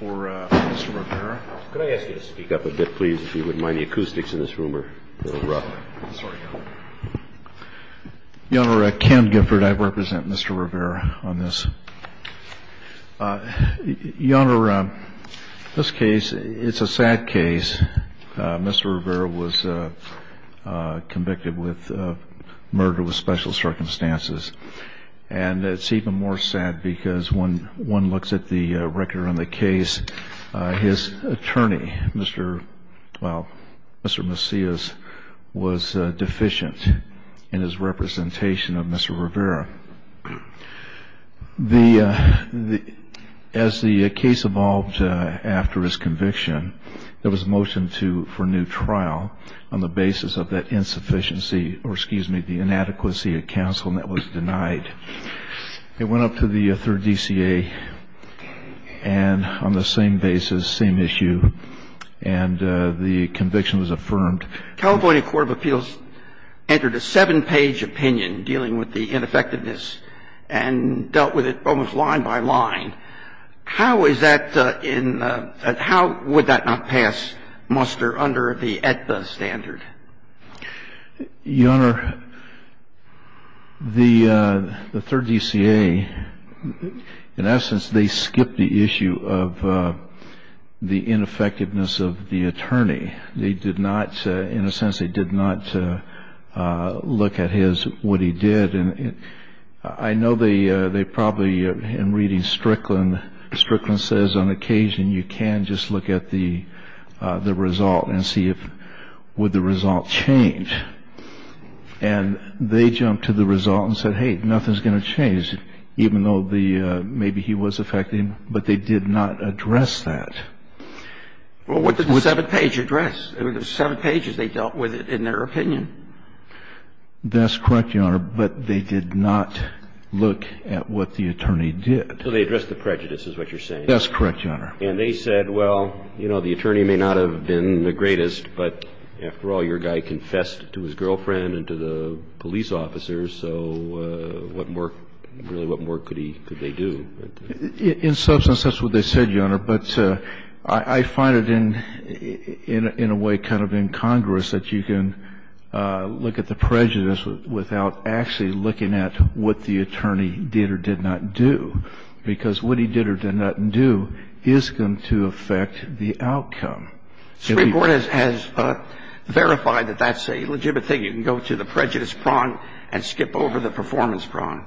For Mr. Rivera, could I ask you to speak up a bit, please, if you wouldn't mind? The acoustics in this room are a little rough. Sorry, Your Honor. Your Honor, Ken Gifford. I represent Mr. Rivera on this. Your Honor, this case, it's a sad case. Mr. Rivera was convicted with murder with special circumstances. And it's even more sad because when one looks at the record on the case, his attorney, Mr. Macias, was deficient in his representation of Mr. Rivera. As the case evolved after his conviction, there was a motion for new trial on the basis of that insufficiency or, excuse me, the inadequacy of counsel, and that was denied. It went up to the third DCA, and on the same basis, same issue, and the conviction was affirmed. California Court of Appeals entered a seven-page opinion dealing with the ineffectiveness and dealt with it almost line by line. How is that in the – how would that not pass muster under the AEDPA standard? Your Honor, the third DCA, in essence, they skipped the issue of the ineffectiveness of the attorney. They did not – in a sense, they did not look at his – what he did. And I know they probably, in reading Strickland, Strickland says on occasion you can just look at the result and see if – would the result change. And they jumped to the result and said, hey, nothing's going to change, even though the – maybe he was affected, but they did not address that. Well, what did the seven-page address? The seven pages, they dealt with it in their opinion. That's correct, Your Honor, but they did not look at what the attorney did. So they addressed the prejudice, is what you're saying. That's correct, Your Honor. And they said, well, you know, the attorney may not have been the greatest, but after all, your guy confessed to his girlfriend and to the police officers, so what more – really, what more could he – could they do? In substance, that's what they said, Your Honor. But I find it in a way kind of incongruous that you can look at the prejudice without actually looking at what the attorney did or did not do, because what he did or did not do is going to affect the outcome. Supreme Court has verified that that's a legitimate thing. You can go to the prejudice prong and skip over the performance prong.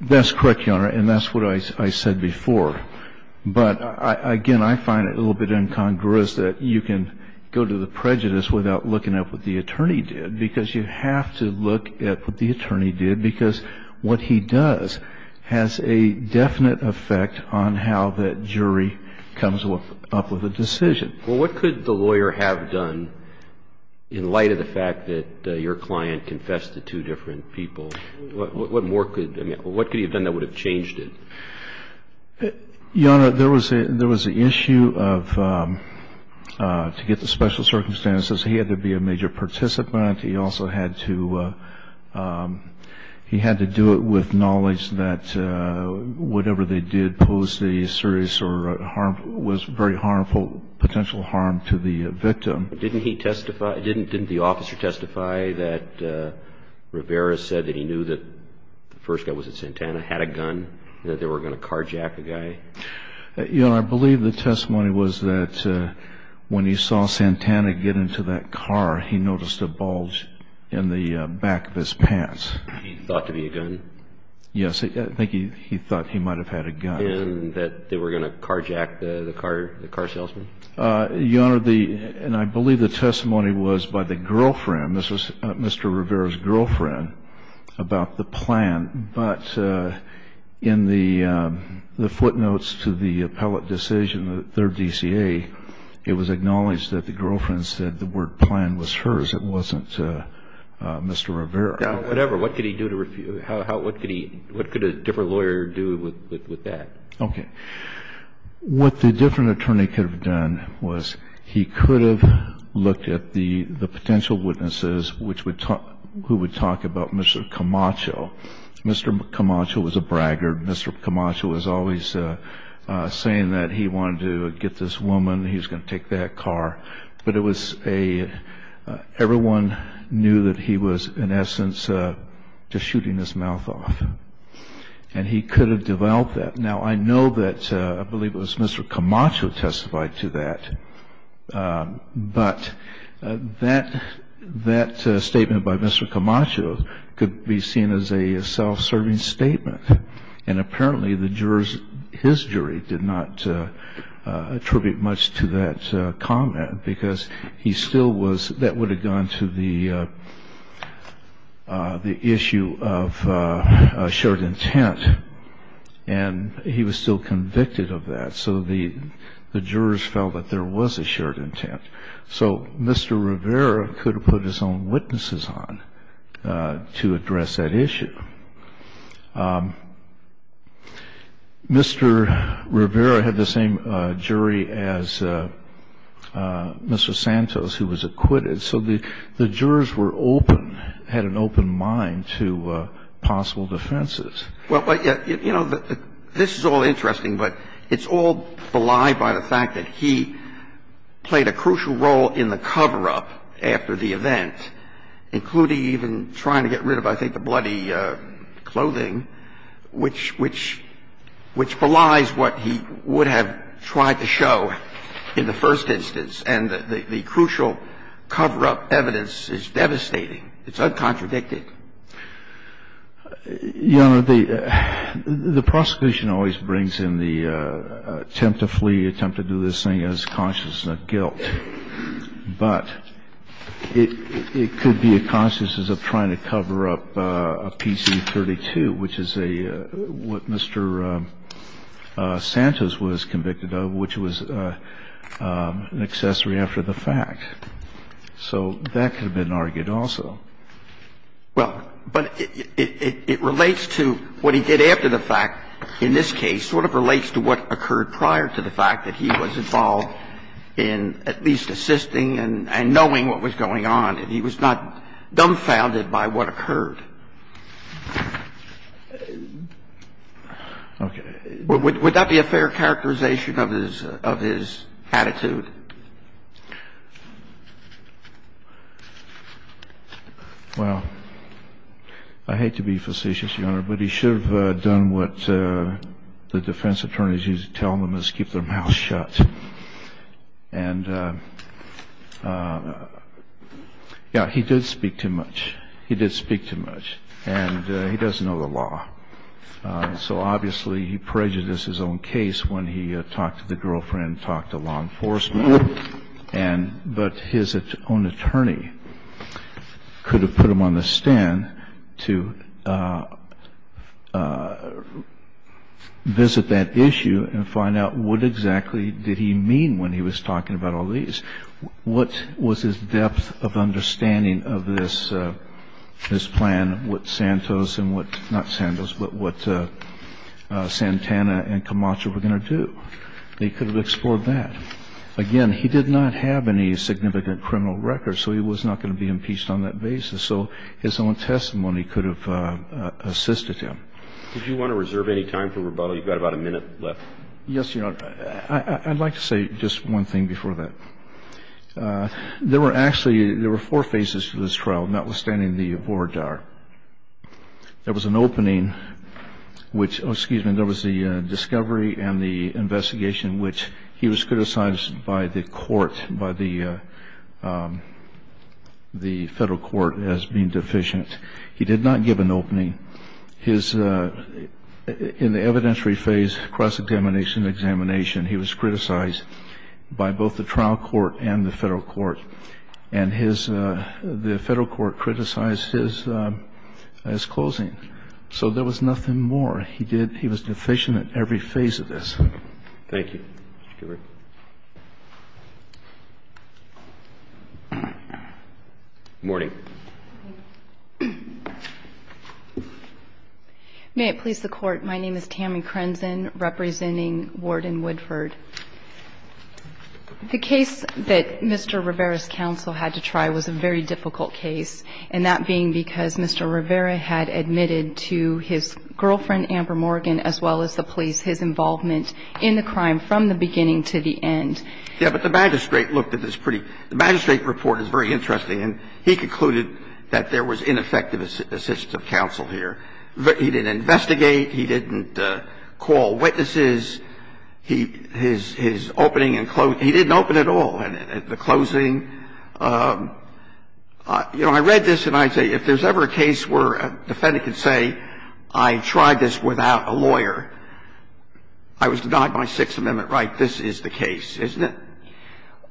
That's correct, Your Honor, and that's what I said before. But, again, I find it a little bit incongruous that you can go to the prejudice without looking at what the attorney did, because you have to look at what the attorney did, because what he does has a definite effect on how that jury comes up with a decision. Well, what could the lawyer have done in light of the fact that your client confessed to two different people? What more could – I mean, what could he have done that would have changed it? Your Honor, there was an issue of – to get the special circumstances, he had to be a major participant. He also had to – he had to do it with knowledge that whatever they did posed a serious or harmful – was very harmful, potential harm to the victim. Didn't he testify – didn't the officer testify that Rivera said that he knew that the first guy was at Santana, had a gun, that they were going to carjack the guy? Your Honor, I believe the testimony was that when he saw Santana get into that car, he noticed a bulge in the back of his pants. He thought to be a gun? Yes. I think he thought he might have had a gun. And that they were going to carjack the car salesman? Your Honor, the – and I believe the testimony was by the girlfriend. This was Mr. Rivera's girlfriend about the plan. But in the footnotes to the appellate decision, their DCA, it was acknowledged that the girlfriend said the word plan was hers. It wasn't Mr. Rivera. Whatever. What could he do to – what could a different lawyer do with that? Okay. What the different attorney could have done was he could have looked at the potential witnesses which would – who would talk about Mr. Camacho. Mr. Camacho was a braggart. Mr. Camacho was always saying that he wanted to get this woman, he was going to take that car. But it was a – everyone knew that he was, in essence, just shooting his mouth off. And he could have developed that. Now, I know that – I believe it was Mr. Camacho who testified to that. But that statement by Mr. Camacho could be seen as a self-serving statement. And apparently the jurors – his jury did not attribute much to that comment because he still was – that would have gone to the issue of assured intent. And he was still convicted of that. So the jurors felt that there was assured intent. So Mr. Rivera could have put his own witnesses on to address that issue. Mr. Rivera had the same jury as Mr. Santos, who was acquitted. So the jurors were open, had an open mind to possible defenses. Well, you know, this is all interesting, but it's all belied by the fact that he played a crucial role in the cover-up after the event, including even trying to get rid of, I think, the bloody clothing, which belies what he would have tried to show in the first instance. And the crucial cover-up evidence is devastating. It's uncontradicted. Your Honor, the prosecution always brings in the attempt to flee, attempt to do this thing as consciousness of guilt. But it could be a consciousness of trying to cover up a PC-32, which is a – what Mr. Santos was convicted of, which was an accessory after the fact. So that could have been argued also. Well, but it relates to what he did after the fact, in this case, sort of relates to what occurred prior to the fact that he was involved in at least assisting and knowing what was going on, and he was not dumbfounded by what occurred. Okay. Would that be a fair characterization of his attitude? Well, I hate to be facetious, Your Honor, but he should have done what the defense attorneys used to tell them is keep their mouths shut. And, yeah, he did speak too much. He did speak too much. And he doesn't know the law. So obviously he prejudiced his own case when he talked to the girlfriend, and talked to law enforcement. But his own attorney could have put him on the stand to visit that issue and find out what exactly did he mean when he was talking about all these. What was his depth of understanding of this plan, what Santos and what – not Santos, but what Santana and Camacho were going to do? They could have explored that. Again, he did not have any significant criminal records, so he was not going to be impeached on that basis. So his own testimony could have assisted him. Did you want to reserve any time for rebuttal? You've got about a minute left. Yes, Your Honor. I'd like to say just one thing before that. There were actually – there were four phases to this trial, notwithstanding the voir dire. There was an opening, which – excuse me. There was the discovery and the investigation, which he was criticized by the court, by the federal court, as being deficient. He did not give an opening. His – in the evidentiary phase, cross-examination and examination, he was criticized by both the trial court and the federal court. And his – the federal court criticized his closing. So there was nothing more. He did – he was deficient at every phase of this. Thank you. Mr. Goodwin. Good morning. May it please the Court. My name is Tammy Crenzen, representing Ward and Woodford. The case that Mr. Rivera's counsel had to try was a very difficult case, and that being because Mr. Rivera had admitted to his girlfriend, Amber Morgan, as well as the police, his involvement in the crime from the beginning to the end. Yes, but the magistrate looked at this pretty – the magistrate report is very interesting. And he concluded that there was ineffective assistance of counsel here. He didn't investigate. He didn't call witnesses. His opening and closing – he didn't open at all. And the closing – you know, I read this and I'd say, if there's ever a case where a defendant could say, I tried this without a lawyer, I was denied my Sixth Amendment right, this is the case, isn't it?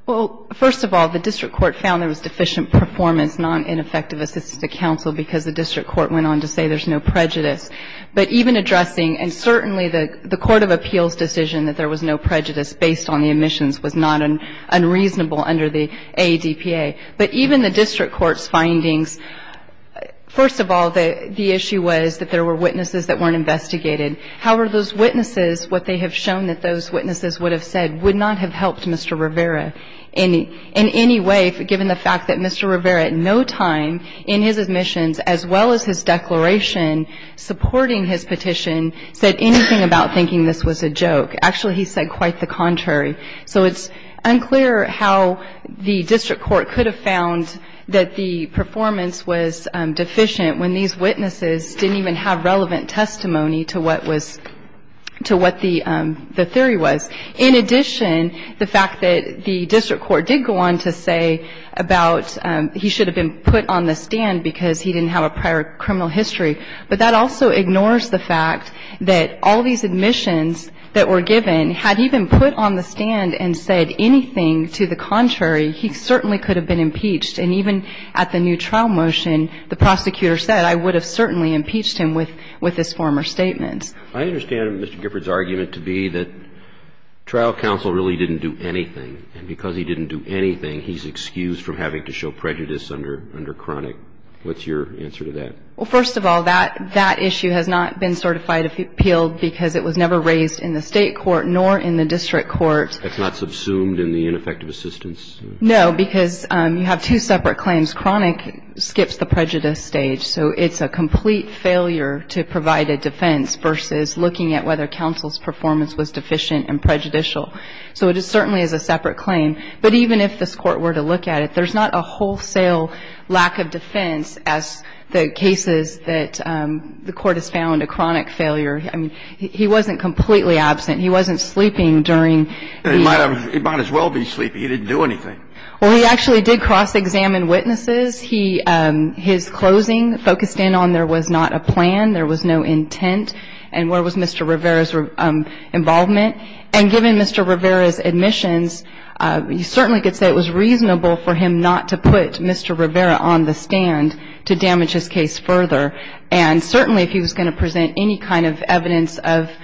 Well, first of all, the district court found there was deficient performance, non-ineffective assistance to counsel, because the district court went on to say there's no prejudice. But even addressing – and certainly the court of appeals decision that there was no prejudice based on the admissions was not unreasonable under the ADPA. But even the district court's findings – first of all, the issue was that there were witnesses that weren't investigated. However, those witnesses, what they have shown that those witnesses would have said would not have helped Mr. Rivera in any way, given the fact that Mr. Rivera at no time in his admissions, as well as his declaration supporting his petition, said anything about thinking this was a joke. Actually, he said quite the contrary. So it's unclear how the district court could have found that the performance was deficient when these witnesses didn't even have relevant testimony to what was – to what the theory was. In addition, the fact that the district court did go on to say about he should have been put on the stand because he didn't have a prior criminal history, but that also ignores the fact that all these admissions that were given, had he been put on the stand and said anything to the contrary, he certainly could have been impeached. And even at the new trial motion, the prosecutor said, I would have certainly impeached him with his former statements. I understand Mr. Giffords' argument to be that trial counsel really didn't do anything. And because he didn't do anything, he's excused from having to show prejudice under Cronick. What's your answer to that? Well, first of all, that issue has not been certified appealed because it was never raised in the state court nor in the district court. It's not subsumed in the ineffective assistance? No, because you have two separate claims. Cronick skips the prejudice stage. So it's a complete failure to provide a defense versus looking at whether counsel's performance was deficient and prejudicial. So it certainly is a separate claim. But even if this Court were to look at it, there's not a wholesale lack of defense as the cases that the Court has found a Cronick failure. I mean, he wasn't completely absent. He wasn't sleeping during the year. He might as well be sleeping. He didn't do anything. Well, he actually did cross-examine witnesses. He – his closing focused in on there was not a plan, there was no intent, and where was Mr. Rivera's involvement. And given Mr. Rivera's admissions, you certainly could say it was reasonable for him not to put Mr. Rivera on the stand to damage his case further. And certainly if he was going to present any kind of evidence of –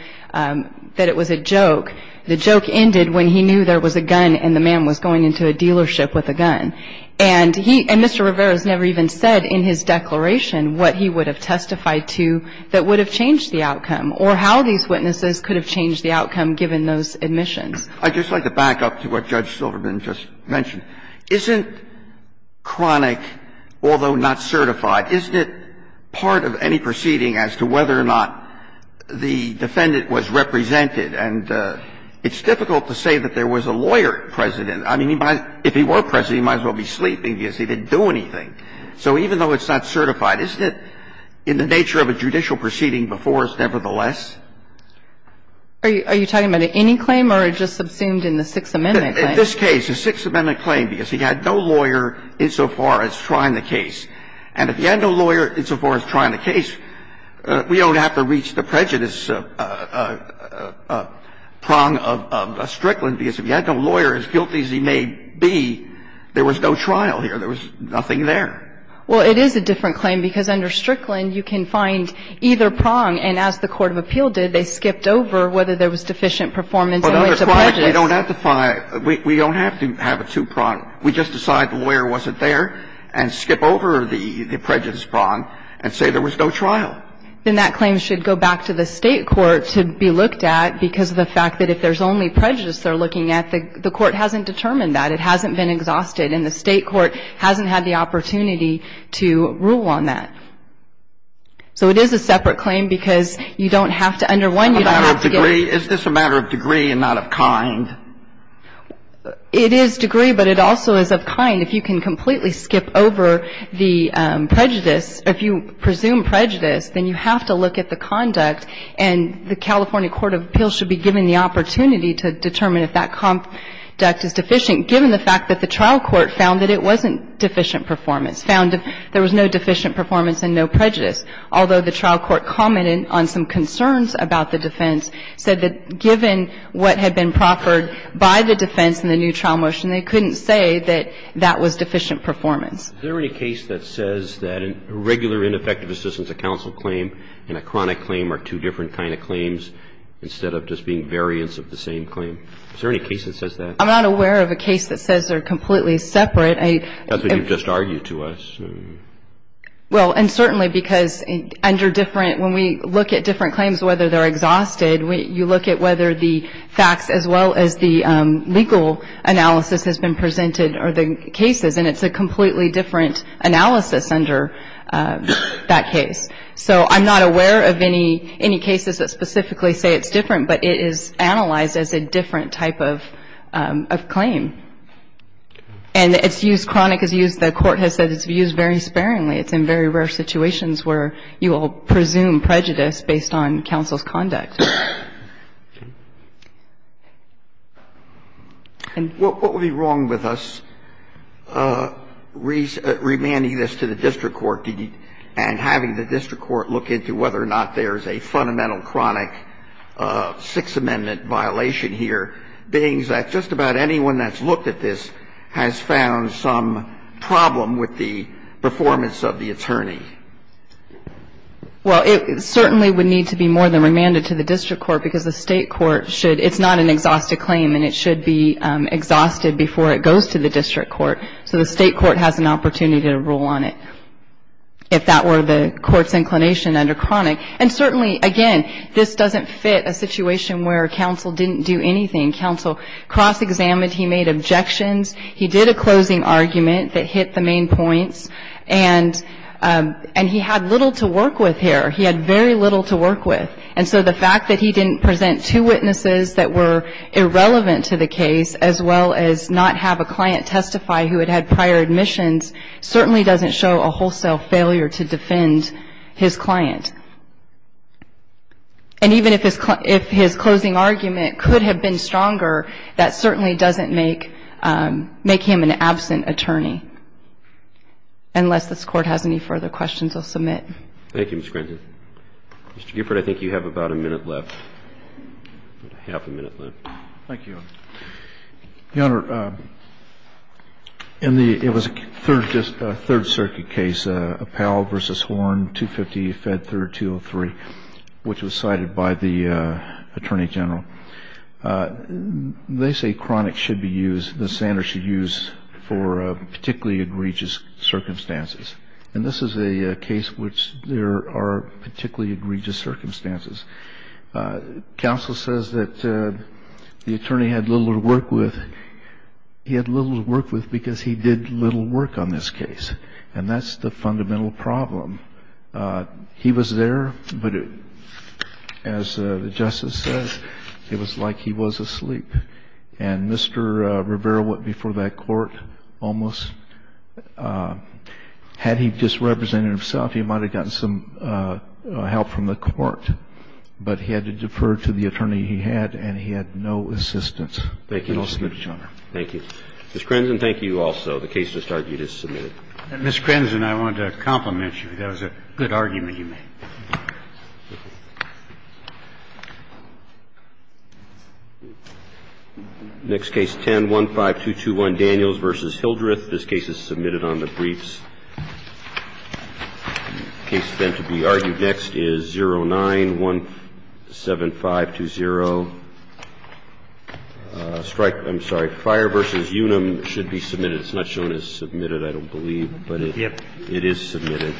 that it was a joke, the joke ended when he knew there was a gun and the man was going into a dealership with a gun. And he – and Mr. Rivera's never even said in his declaration what he would have testified to that would have changed the outcome or how these witnesses could have changed the outcome given those admissions. I'd just like to back up to what Judge Silverman just mentioned. Isn't Cronick, although not certified, isn't it part of any proceeding as to whether or not the defendant was represented? And it's difficult to say that there was a lawyer present. I mean, if he were present, he might as well be sleeping because he didn't do anything. So even though it's not certified, isn't it in the nature of a judicial proceeding he didn't do anything before us, nevertheless. Are you – are you talking about any claim or just subsumed in the Sixth Amendment claim? In this case, the Sixth Amendment claim, because he had no lawyer insofar as trying the case. And if he had no lawyer insofar as trying the case, we don't have to reach the prejudice prong of Strickland, because if he had no lawyer, as guilty as he may be, there was no trial here. There was nothing there. Well, it is a different claim, because under Strickland, you can find either prong, and as the court of appeal did, they skipped over whether there was deficient performance and went to prejudice. But under Cronick, we don't have to find – we don't have to have a two-prong. We just decide the lawyer wasn't there and skip over the prejudice prong and say there was no trial. Then that claim should go back to the State court to be looked at, because of the fact that if there's only prejudice they're looking at, the court hasn't determined that. It hasn't been exhausted, and the State court hasn't had the opportunity to rule on that. So it is a separate claim, because you don't have to – under one, you don't have to get – A matter of degree? Is this a matter of degree and not of kind? It is degree, but it also is of kind. And if you can completely skip over the prejudice, if you presume prejudice, then you have to look at the conduct. And the California court of appeals should be given the opportunity to determine if that conduct is deficient, given the fact that the trial court found that it wasn't deficient performance, found there was no deficient performance and no prejudice, although the trial court commented on some concerns about the defense, said that was deficient performance. Is there any case that says that a regular ineffective assistance of counsel claim and a chronic claim are two different kind of claims, instead of just being variants of the same claim? Is there any case that says that? I'm not aware of a case that says they're completely separate. That's what you've just argued to us. Well, and certainly because under different – when we look at different claims, whether they're exhausted, you look at whether the facts as well as the legal analysis has been presented or the cases, and it's a completely different analysis under that case. So I'm not aware of any cases that specifically say it's different, but it is analyzed as a different type of claim. And it's used – chronic is used – the court has said it's used very sparingly. It's in very rare situations where you will presume prejudice based on counsel's conduct. And what would be wrong with us remanding this to the district court and having the district court look into whether or not there's a fundamental chronic Sixth Amendment violation here, being that just about anyone that's looked at this has found some Well, it certainly would need to be more than remanded to the district court because the state court should – it's not an exhausted claim, and it should be exhausted before it goes to the district court. So the state court has an opportunity to rule on it, if that were the court's inclination under chronic. And certainly, again, this doesn't fit a situation where counsel didn't do anything. Counsel cross-examined. He made objections. He did a closing argument that hit the main points. And he had little to work with here. He had very little to work with. And so the fact that he didn't present two witnesses that were irrelevant to the case, as well as not have a client testify who had had prior admissions, certainly doesn't show a wholesale failure to defend his client. And even if his closing argument could have been stronger, that certainly doesn't make him an absent attorney, unless this Court has any further questions or submit. Thank you, Ms. Grandin. Mr. Gifford, I think you have about a minute left, half a minute left. Thank you, Your Honor. Your Honor, in the – it was a Third Circuit case, Appell v. Horn, 250 E. Fedd III, 203, which was cited by the Attorney General. They say chronic should be used, the standard should be used for particularly egregious circumstances. And this is a case which there are particularly egregious circumstances. Counsel says that the attorney had little to work with. He had little to work with because he did little work on this case. And that's the fundamental problem. He was there, but as the justice says, it was like he was asleep. And Mr. Rivera went before that court almost. Had he just represented himself, he might have gotten some help from the court. But he had to defer to the attorney he had, and he had no assistance. Thank you, Mr. Chairman. Thank you. Ms. Crenson, thank you also. The case just argued is submitted. Ms. Crenson, I wanted to compliment you. That was a good argument you made. Thank you. Next case, 10-15221, Daniels v. Hildreth. This case is submitted on the briefs. The case then to be argued next is 09-17520. Strike – I'm sorry. Fire v. Unum should be submitted. It's not shown as submitted. I don't believe. But it is submitted.